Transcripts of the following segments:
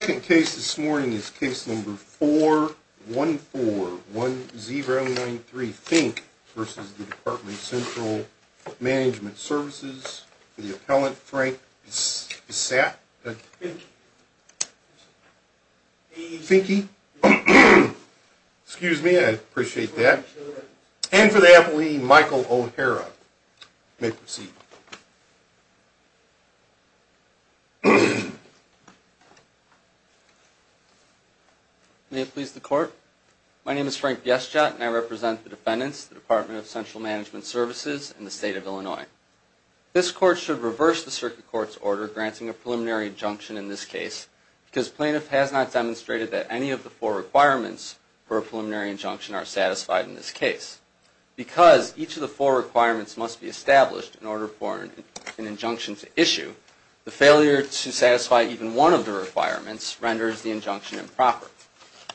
The second case this morning is case number 4141093 Fink v. The Department of Central Management Services for the appellant Frank Bissette, and for the appellant Michael O'Hara. You may proceed. May it please the court? My name is Frank Bissette, and I represent the defendants, the Department of Central Management Services in the state of Illinois. This court should reverse the circuit court's order granting a preliminary injunction in this case because plaintiff has not demonstrated that any of the four requirements for a preliminary injunction are satisfied in this case. Because each of the four requirements must be established in order for an injunction to issue, the failure to satisfy even one of the requirements renders the injunction improper.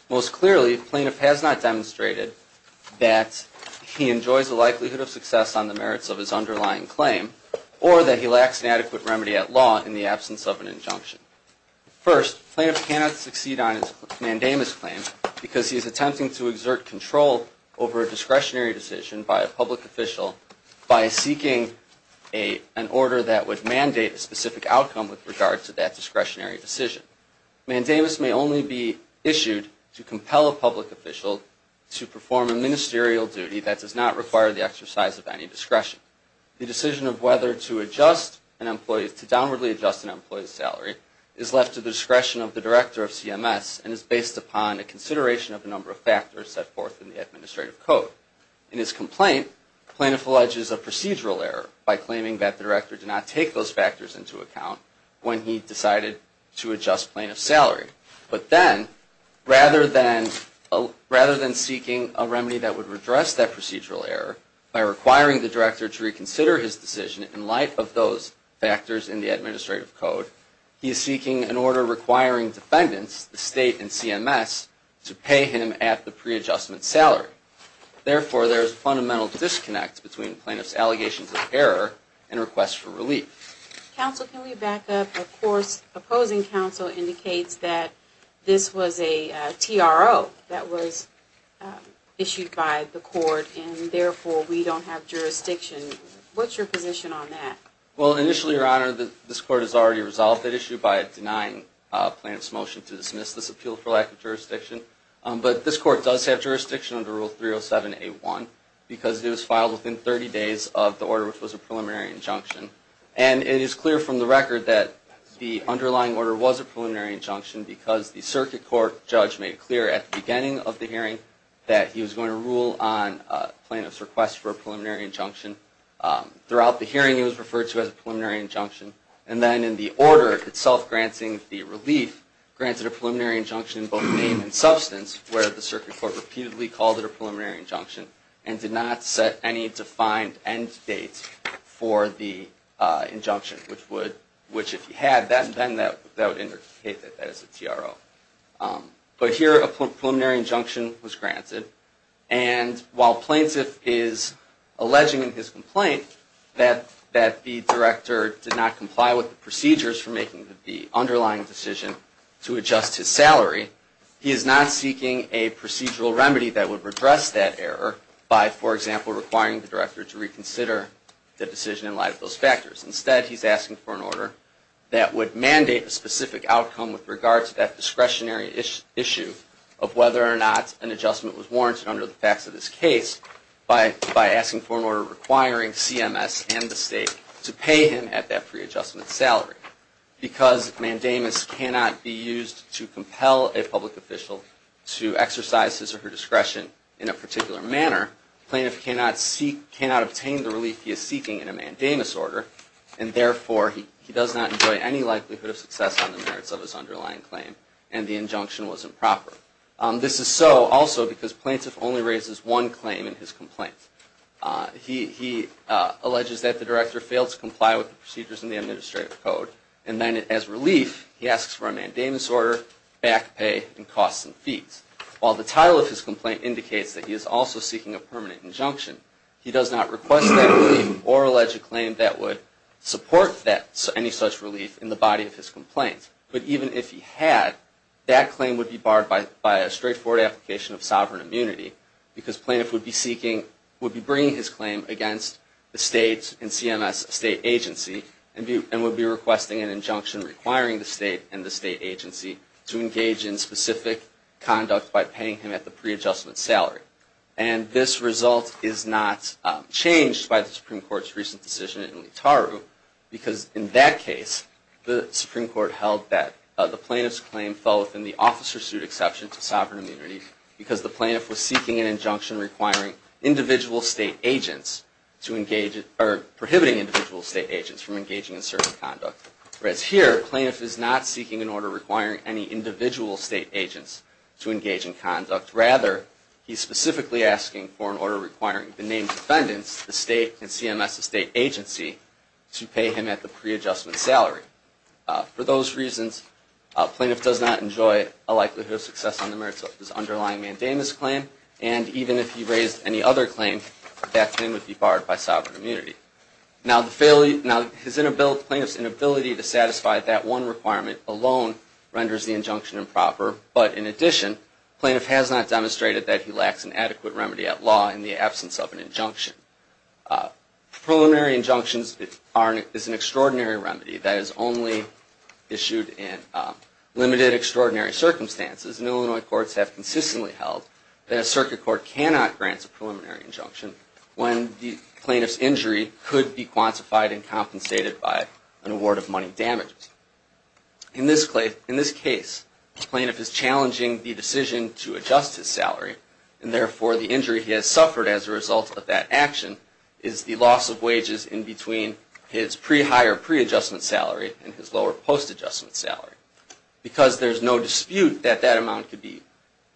Most clearly, plaintiff has not demonstrated that he enjoys a likelihood of success on the merits of his underlying claim or that he lacks an adequate remedy at law in the absence of an injunction. First, plaintiff cannot succeed on his mandamus claim because he is attempting to exert control over a discretionary decision by a public official by seeking an order that would mandate a specific outcome with regard to that discretionary decision. Mandamus may only be issued to compel a public official to perform a ministerial duty that does not require the exercise of any discretion. The decision of whether to adjust an employee's salary is left to the discretion of the director of CMS and is based upon a consideration of a number of factors set forth in the administrative code. In his complaint, plaintiff alleges a procedural error by claiming that the director did not take those factors into account when he decided to adjust plaintiff's salary. But then, rather than seeking a remedy that would redress that procedural error by requiring the director to reconsider his decision in light of those factors in the administrative code, he is seeking an order requiring defendants, the State and CMS, to pay him at the pre-adjustment salary. Therefore, there is a fundamental disconnect between plaintiff's allegations of error and requests for relief. Counsel, can we back up? Of course, opposing counsel indicates that this was a TRO that was issued by the court and therefore we don't have jurisdiction. What's your position on that? Well, initially, Your Honor, this court has already resolved that issue by denying plaintiff's motion to dismiss this appeal for lack of jurisdiction. But this court does have jurisdiction under Rule 307A1 because it was filed within 30 days of the order, which was a preliminary injunction. And it is clear from the record that the underlying order was a preliminary injunction because the circuit court judge made clear at the beginning of the hearing that he was going to rule on plaintiff's request for a preliminary injunction. Throughout the hearing, it was referred to as a preliminary injunction. And then in the order itself granting the relief, granted a preliminary injunction in both name and substance where the circuit court repeatedly called it a preliminary injunction and did not set any defined end date for the injunction, which if you had that, then that would indicate that that is a TRO. But here, a preliminary injunction was granted. And while plaintiff is alleging in his complaint that the director did not comply with the procedures for making the underlying decision to adjust his salary, he is not seeking a procedural remedy that would redress that error by, for example, requiring the director to reconsider the decision in light of those factors. Instead, he's asking for an order that would mandate a specific outcome with regard to that discretionary issue of whether or not an adjustment was warranted under the facts of this case by asking for an order requiring CMS and the state to pay him at that pre-adjustment salary. Because mandamus cannot be used to compel a public official to exercise his or her discretion in a particular manner, plaintiff cannot obtain the relief he is seeking in a mandamus order, and therefore he does not enjoy any likelihood of success on the merits of his underlying claim, and the injunction was improper. This is so also because plaintiff only raises one claim in his complaint. He alleges that the director failed to comply with the procedures in the administrative code, and then as relief, he asks for a mandamus order, back pay, and costs and fees. While the title of his complaint indicates that he is also seeking a permanent injunction, he does not request that relief or allege a claim that would support any such relief in the body of his complaint. But even if he had, that claim would be barred by a straightforward application of sovereign immunity, because plaintiff would be bringing his claim against the state and CMS state agency, and would be requesting an injunction requiring the state and the state agency to engage in specific conduct by paying him at the pre-adjustment salary. And this result is not changed by the Supreme Court's recent decision in Leetaru, because in that case, the Supreme Court held that the plaintiff's claim fell within the officer's suit exception to sovereign immunity, because the plaintiff was seeking an injunction requiring individual state agents to engage, or prohibiting individual state agents from engaging in certain conduct. Whereas here, plaintiff is not seeking an order requiring any individual state agents to engage in conduct. Rather, he's specifically asking for an order requiring the named defendants, the state and CMS state agency, to pay him at the pre-adjustment salary. For those reasons, plaintiff does not enjoy a likelihood of success on the merits of his underlying mandamus claim, and even if he raised any other claim, that claim would be barred by sovereign immunity. Now, plaintiff's inability to satisfy that one requirement alone renders the injunction improper, but in addition, plaintiff has not demonstrated that he lacks an adequate remedy at law in the absence of an injunction. Preliminary injunctions is an extraordinary remedy that is only issued in limited, extraordinary circumstances, and Illinois courts have consistently held that a circuit court cannot grant a preliminary injunction when the plaintiff's injury could be quantified and compensated by an award of money damage. In this case, the plaintiff is challenging the decision to adjust his salary, and therefore the injury he has suffered as a result of that action is the loss of wages in between his pre-hire pre-adjustment salary and his lower post-adjustment salary. Because there's no dispute that that amount could be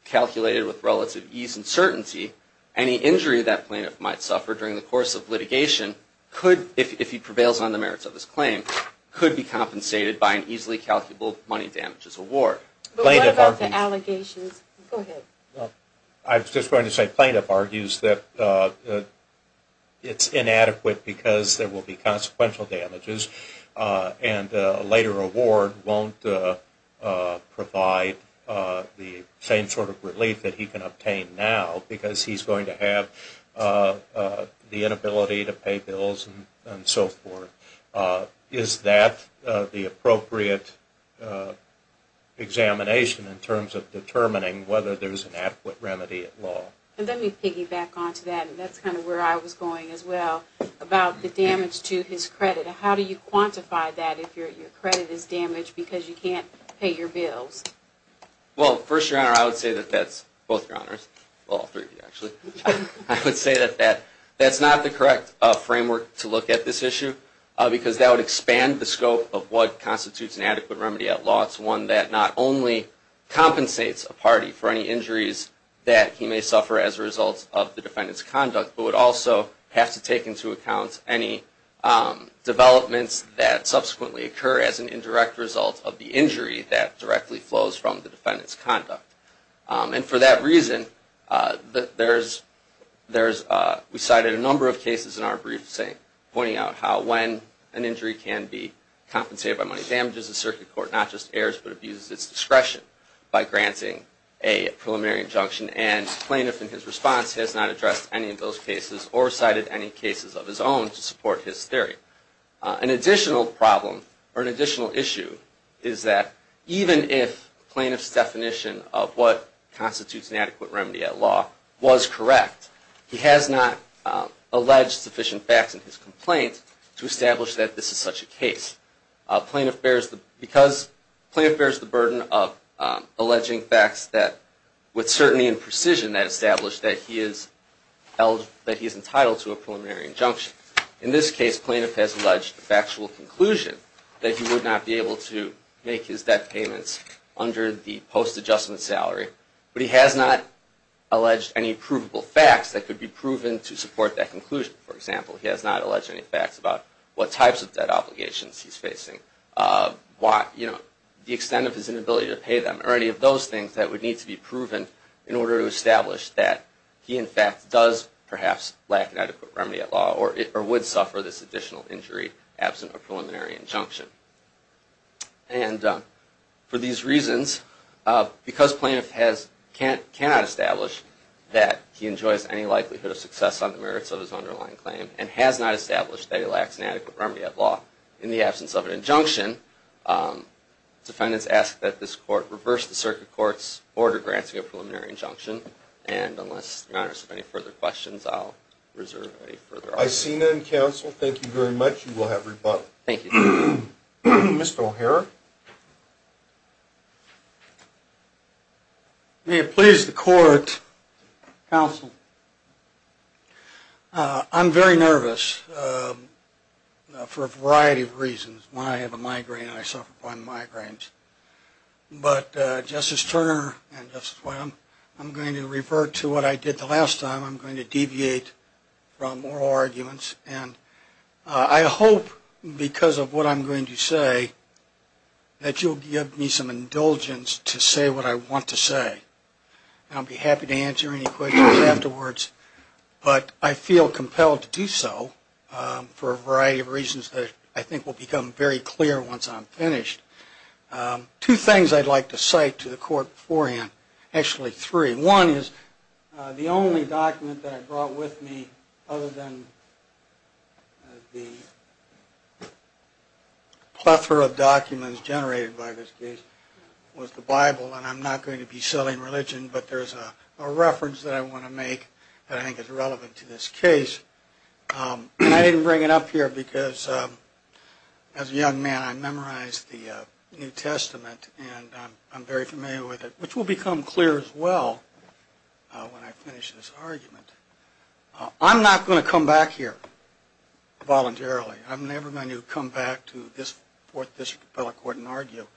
calculated with relative ease and certainty, any injury that plaintiff might suffer during the course of litigation, if he prevails on the merits of his claim, could be compensated by an easily calculable money damages award. I was just going to say plaintiff argues that it's inadequate because there will be consequential damages and a later award won't provide the same sort of relief that he can obtain now because he's going to have the inability to pay bills and so forth. Is that the appropriate examination in terms of determining whether there's an adequate remedy at law? And let me piggyback onto that, and that's kind of where I was going as well, about the damage to his credit. How do you quantify that if your credit is damaged because you can't pay your bills? Well, first, Your Honor, I would say that that's not the correct framework to look at this issue because that would expand the scope of what constitutes an adequate remedy at law. It's one that not only compensates a party for any injuries that he may suffer as a result of the defendant's conduct, but would also have to take into account any developments that subsequently occur as an indirect result of the injury that directly flows from the defendant's conduct. And for that reason, we cited a number of cases in our briefs pointing out how when an injury can be compensated by money damages, the circuit court not just errs but abuses its discretion by granting a preliminary injunction. And plaintiff in his response has not addressed any of those cases or cited any cases of his own to support his theory. An additional problem or an additional issue is that even if plaintiff's definition of what constitutes an adequate remedy at law was correct, he has not alleged sufficient facts in his complaint to establish that this is such a case. Because plaintiff bears the burden of alleging facts with certainty and precision that establish that he is entitled to a preliminary injunction, in this case, plaintiff has alleged a factual conclusion that he would not be able to make his debt payments under the post-adjustment salary. But he has not alleged any provable facts that could be proven to support that conclusion. For example, he has not alleged any facts about what types of debt obligations he's facing, the extent of his inability to pay them, or any of those things that would need to be proven in order to establish that he in fact does perhaps lack an adequate remedy at law or would suffer this additional injury absent a preliminary injunction. And for these reasons, because plaintiff cannot establish that he enjoys any likelihood of success on the merits of his underlying claim and has not established that he lacks an adequate remedy at law in the absence of an injunction, defendants ask that this court reverse the circuit court's order granting a preliminary injunction. And unless your honors have any further questions, I'll reserve any further argument. I see none, counsel. Thank you very much. You will have rebuttal. Thank you. Mr. O'Hara. May it please the court, counsel, I'm very nervous for a variety of reasons. When I have a migraine, I suffer from migraines. But Justice Turner and Justice White, I'm going to revert to what I did the last time. I'm going to deviate from oral arguments. And I hope because of what I'm going to say that you'll give me some indulgence to say what I want to say. And I'll be happy to answer any questions afterwards. But I feel compelled to do so for a variety of reasons that I think will become very clear once I'm finished. Two things I'd like to cite to the court beforehand. Actually, three. One is the only document that I brought with me other than the plethora of documents generated by this case was the Bible. And I'm not going to be selling religion, but there's a reference that I want to make that I think is relevant to this case. And I didn't bring it up here because as a young man, I memorized the New Testament. And I'm very familiar with it, which will become clear as well when I finish this argument. I'm not going to come back here voluntarily. I'm never going to come back to this Fourth District Appellate Court and argue.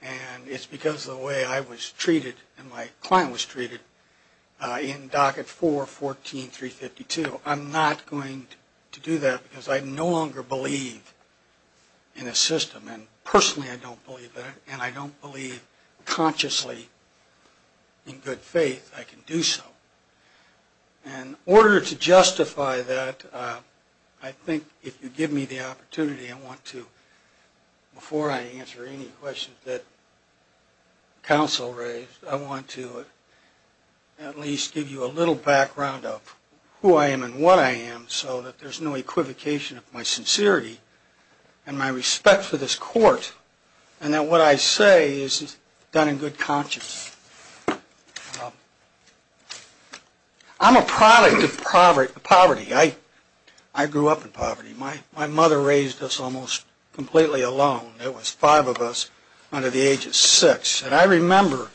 And it's because of the way I was treated and my client was treated in Docket 4-14-352. I'm not going to do that because I no longer believe in a system. And personally, I don't believe that. And I don't believe consciously in good faith I can do so. In order to justify that, I think if you give me the opportunity, I want to, before I answer any questions that counsel raised, I want to at least give you a little background of who I am and what I am so that there's no equivocation of my sincerity and my respect for this court. And that what I say is done in good conscience. I'm a product of poverty. I grew up in poverty. My mother raised us almost completely alone. There was five of us under the age of six. And I remember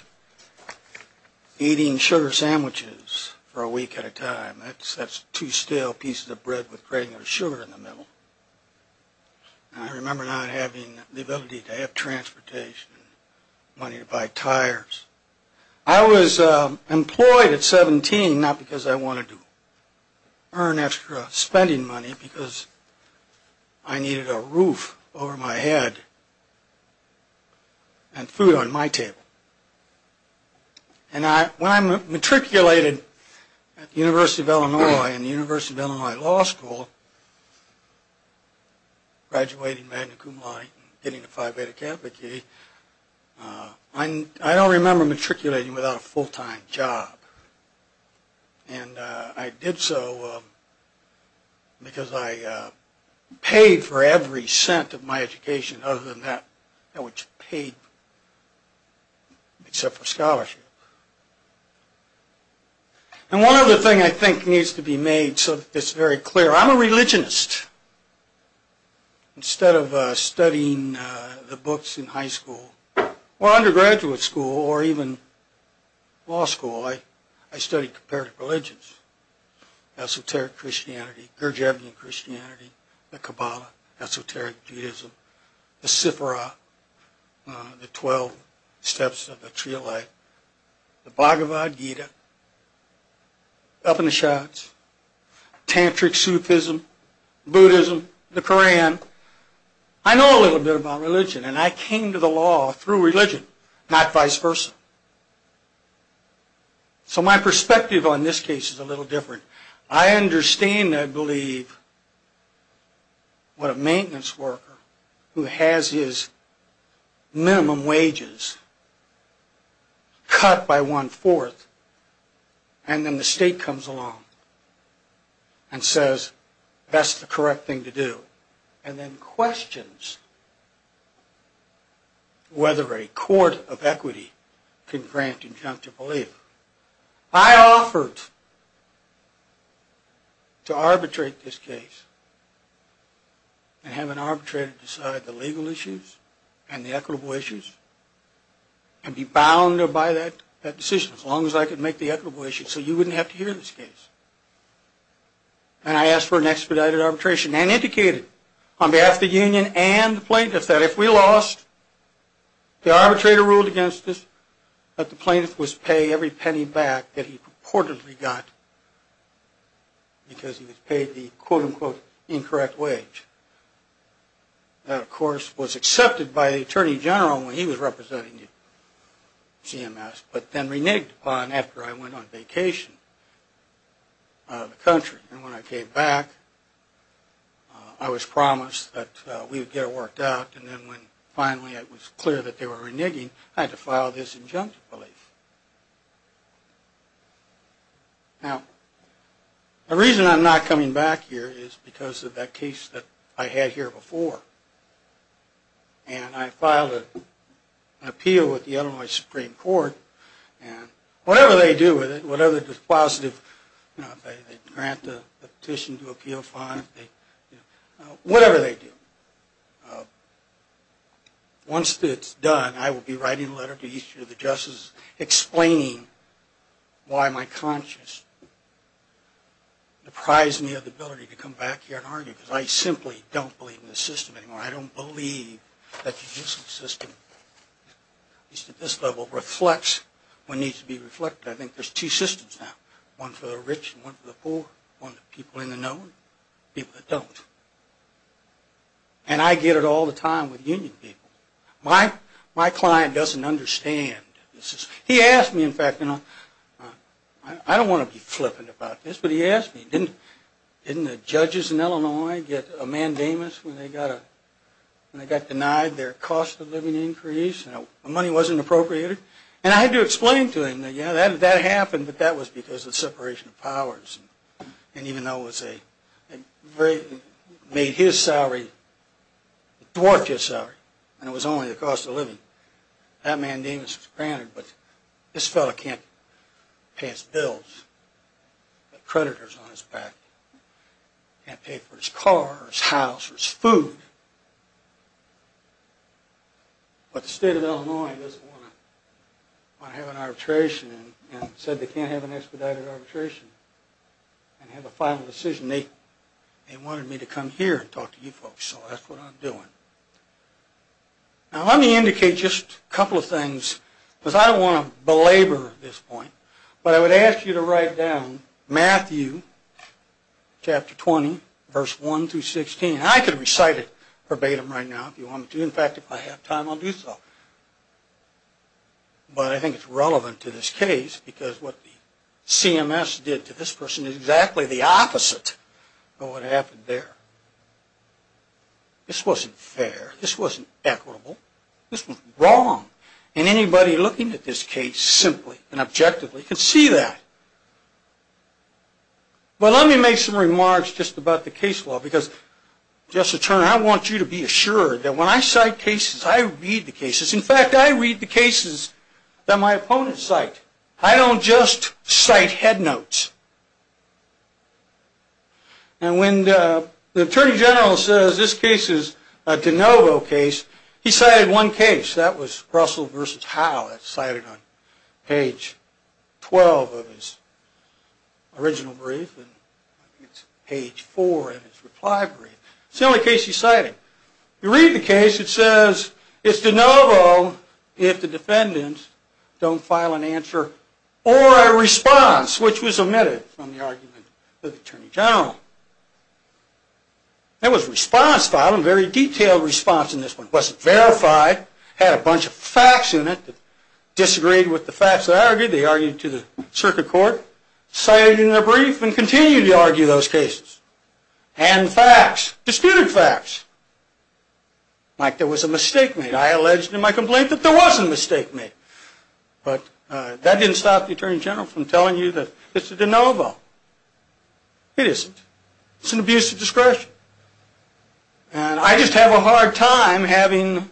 eating sugar sandwiches for a week at a time. That's two stale pieces of bread with a grain of sugar in the middle. And I remember not having the ability to have transportation, money to buy tires. I was employed at 17, not because I wanted to earn extra spending money, because I needed a roof over my head and food on my table. And when I matriculated at the University of Illinois in the University of Illinois Law School, graduating magna cum laude and getting a Phi Beta Kappa key, I don't remember matriculating without a full-time job. And I did so because I paid for every cent of my education other than that which paid, except for scholarship. And one other thing I think needs to be made so that it's very clear. I'm a religionist. Instead of studying the books in high school or undergraduate school or even law school, I studied comparative religions. Esoteric Christianity, Gurdjieffian Christianity, the Kabbalah, Esoteric Judaism, the Sifra, the Twelve Steps of the Trialite, the Bhagavad Gita, Upanishads, Tantric Sufism, Buddhism, the Koran. I know a little bit about religion and I came to the law through religion, not vice versa. So my perspective on this case is a little different. I understand and believe what a maintenance worker who has his minimum wages cut by one-fourth and then the state comes along and says that's the correct thing to do and then questions whether a court of equity can grant conjunctive belief. I offered to arbitrate this case and have an arbitrator decide the legal issues and the equitable issues and be bound by that decision as long as I could make the equitable issues so you wouldn't have to hear this case. And I asked for an expedited arbitration and indicated on behalf of the union and the plaintiff that if we lost, the arbitrator ruled against us, but the plaintiff was paying every penny back that he purportedly got because he was paid the quote-unquote incorrect wage. That, of course, was accepted by the Attorney General when he was representing CMS, but then reneged upon after I went on vacation out of the country. And when I came back, I was promised that we would get it worked out and then when finally it was clear that they were reneging, I had to file this injunctive belief. Now, the reason I'm not coming back here is because of that case that I had here before and I filed an appeal with the Illinois Supreme Court and whatever they do with it, whatever dispositive, they grant the petition to appeal five, whatever they do, once it's done, I will be writing a letter to each of the justice executives explaining why my conscience deprives me of the ability to come back here and argue because I simply don't believe in the system anymore. I don't believe that the judicial system, at least at this level, reflects what needs to be reflected. I think there's two systems now, one for the rich and one for the poor, one for the people in the known, people that don't. And I get it all the time with union people. My client doesn't understand. He asked me, in fact, I don't want to be flippant about this, but he asked me, didn't the judges in Illinois get a mandamus when they got denied their cost of living increase and the money wasn't appropriated? And I had to explain to him that, yeah, that happened, but that was because of separation of powers and even though it was a great, made his salary, dwarfed his salary, and it was only the cost of living, that mandamus was granted, but this fellow can't pay his bills. He's got creditors on his back. He can't pay for his car or his house or his food. But the state of Illinois doesn't want to have an arbitration and said they can't have an expedited arbitration and have a final decision. They wanted me to come here and talk to you folks, so that's what I'm doing. Now, let me indicate just a couple of things because I don't want to belabor this point, but I would ask you to write down Matthew chapter 20, verse 1 through 16. I could recite it verbatim right now if you want me to. In fact, if I have time, I'll do so. But I think it's relevant to this case because what CMS did to this person is exactly the opposite of what happened there. This wasn't fair. This wasn't equitable. This was wrong, and anybody looking at this case simply and objectively can see that. But let me make some remarks just about the case law because, Justice Turner, I want you to be assured that when I cite cases, I read the cases. In fact, I read the cases that my opponents cite. I don't just cite head notes. And when the Attorney General says this case is a de novo case, he cited one case. That was Russell v. Howe. That's cited on page 12 of his original brief, and it's page 4 in his reply brief. It's the only case he's citing. You read the case. It says it's de novo if the defendants don't file an answer or a response, which was omitted from the argument of the Attorney General. There was a response filed, a very detailed response in this one. It wasn't verified. It had a bunch of facts in it that disagreed with the facts that argued. They argued to the circuit court, cited it in their brief, and continued to argue those cases. And facts, disputed facts, like there was a mistake made. I alleged in my complaint that there was a mistake made. But that didn't stop the Attorney General from telling you that it's a de novo. It isn't. It's an abuse of discretion. And I just have a hard time having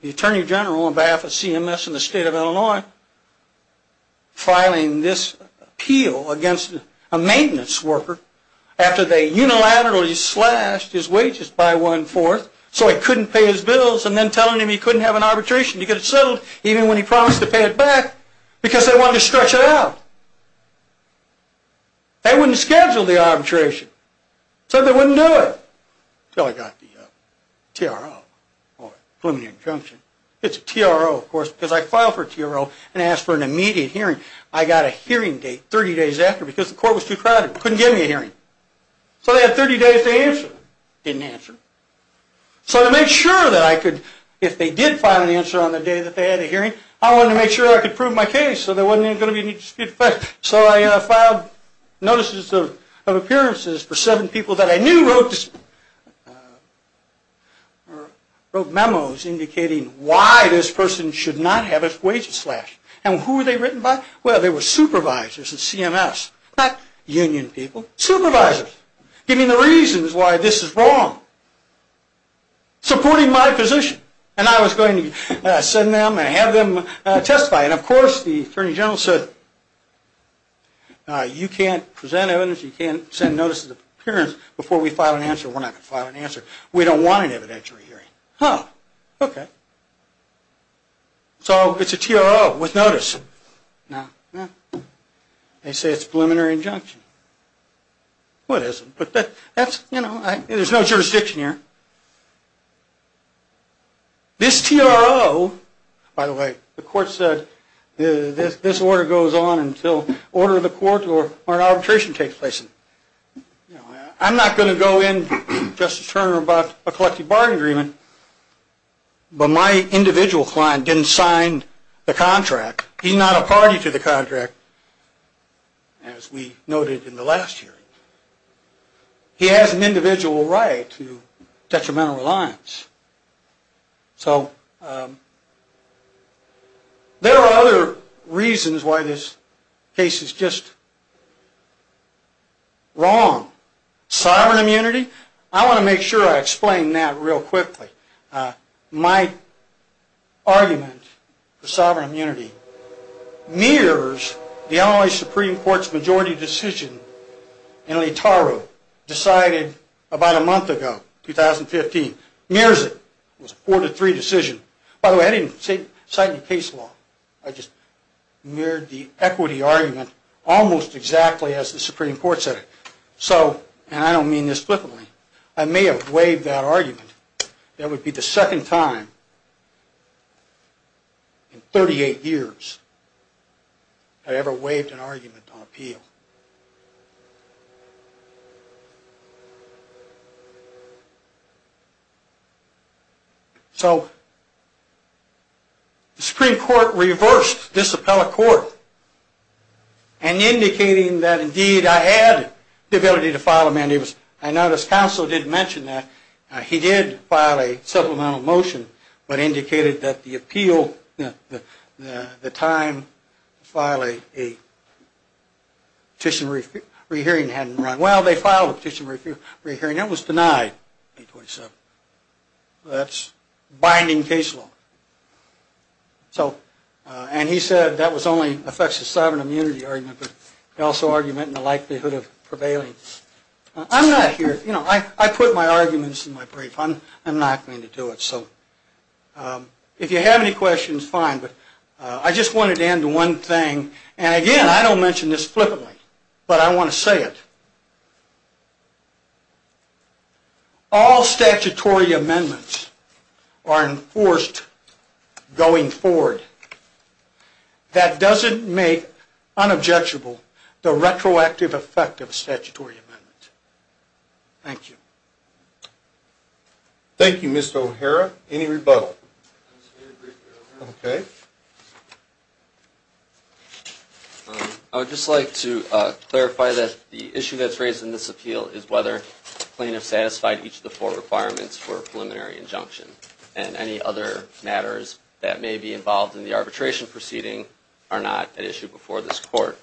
the Attorney General on behalf of CMS and the state of Illinois filing this appeal against a maintenance worker after they unilaterally slashed his wages by one-fourth so he couldn't pay his bills and then telling him he couldn't have an arbitration. He could have settled even when he promised to pay it back because they wanted to stretch it out. They wouldn't schedule the arbitration. Said they wouldn't do it until he got the TRO or preliminary injunction. It's a TRO, of course, because I filed for a TRO and asked for an immediate hearing. I got a hearing date 30 days after because the court was too crowded. Couldn't give me a hearing. So they had 30 days to answer. Didn't answer. So to make sure that I could, if they did file an answer on the day that they had a hearing, I wanted to make sure I could prove my case so there wasn't going to be any disputed facts. So I filed notices of appearances for seven people that I knew wrote memos indicating why this person should not have his wages slashed. And who were they written by? Well, they were supervisors at CMS. Not union people. Supervisors. Giving the reasons why this is wrong. Supporting my position. And I was going to send them and have them testify. And, of course, the attorney general said you can't present evidence, you can't send notices of appearance before we file an answer. We're not going to file an answer. We don't want an evidentiary hearing. Huh. Okay. So it's a TRO with notice. They say it's a preliminary injunction. Well, it isn't. But that's, you know, there's no jurisdiction here. This TRO, by the way, the court said this order goes on until order of the court or an arbitration takes place. I'm not going to go in, Justice Turner, about a collective bargaining agreement, but my individual client didn't sign the contract. He's not a party to the contract, as we noted in the last hearing. He has an individual right to detrimental reliance. So there are other reasons why this case is just wrong. Sovereign immunity. I want to make sure I explain that real quickly. My argument for sovereign immunity mirrors the Illinois Supreme Court's majority decision in Leotaro decided about a month ago, 2015. Mirrors it. It was a 4-3 decision. By the way, I didn't cite any case law. I just mirrored the equity argument almost exactly as the Supreme Court said it. So, and I don't mean this flippantly, I may have waived that argument. That would be the second time in 38 years I ever waived an argument on appeal. So the Supreme Court reversed this appellate court and indicating that, indeed, I had the ability to file a mandate. I notice counsel didn't mention that. He did file a supplemental motion, but indicated that the appeal, the time to file a petition re-hearing hadn't run well. They filed a petition re-hearing. It was denied. That's binding case law. So, and he said that only affects the sovereign immunity argument, but also argument in the likelihood of prevailing. I'm not here, you know, I put my arguments in my brief. I'm not going to do it. So if you have any questions, fine, but I just wanted to add to one thing. And again, I don't mention this flippantly, but I want to say it. All statutory amendments are enforced going forward. That doesn't make unobjectable the retroactive effect of a statutory amendment. Thank you. Thank you, Mr. O'Hara. Any rebuttal? Okay. I would just like to clarify that the issue that's raised in this appeal is whether plaintiffs satisfied each of the four requirements for a preliminary injunction and any other matters that may be involved in the arbitration proceeding are not an issue before this court.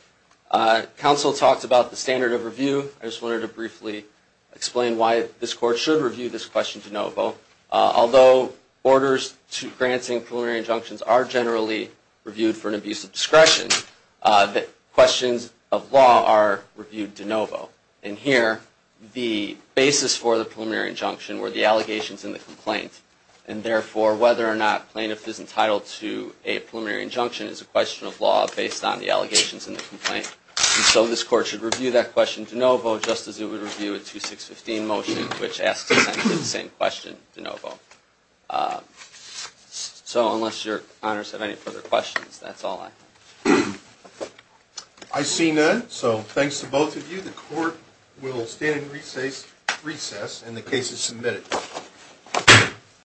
Council talked about the standard of review. I just wanted to briefly explain why this court should review this question de novo. Although orders to granting preliminary injunctions are generally reviewed for an abuse of discretion, questions of law are reviewed de novo. And here, the basis for the preliminary injunction were the allegations and the complaint. And therefore, whether or not plaintiff is entitled to a preliminary injunction is a question of law based on the allegations and the complaint. And so this court should review that question de novo just as it would review a 2615 motion, which asks essentially the same question de novo. So unless your honors have any further questions, that's all I have. I see none. So thanks to both of you, the court will stand in recess and the case is submitted. Thank you.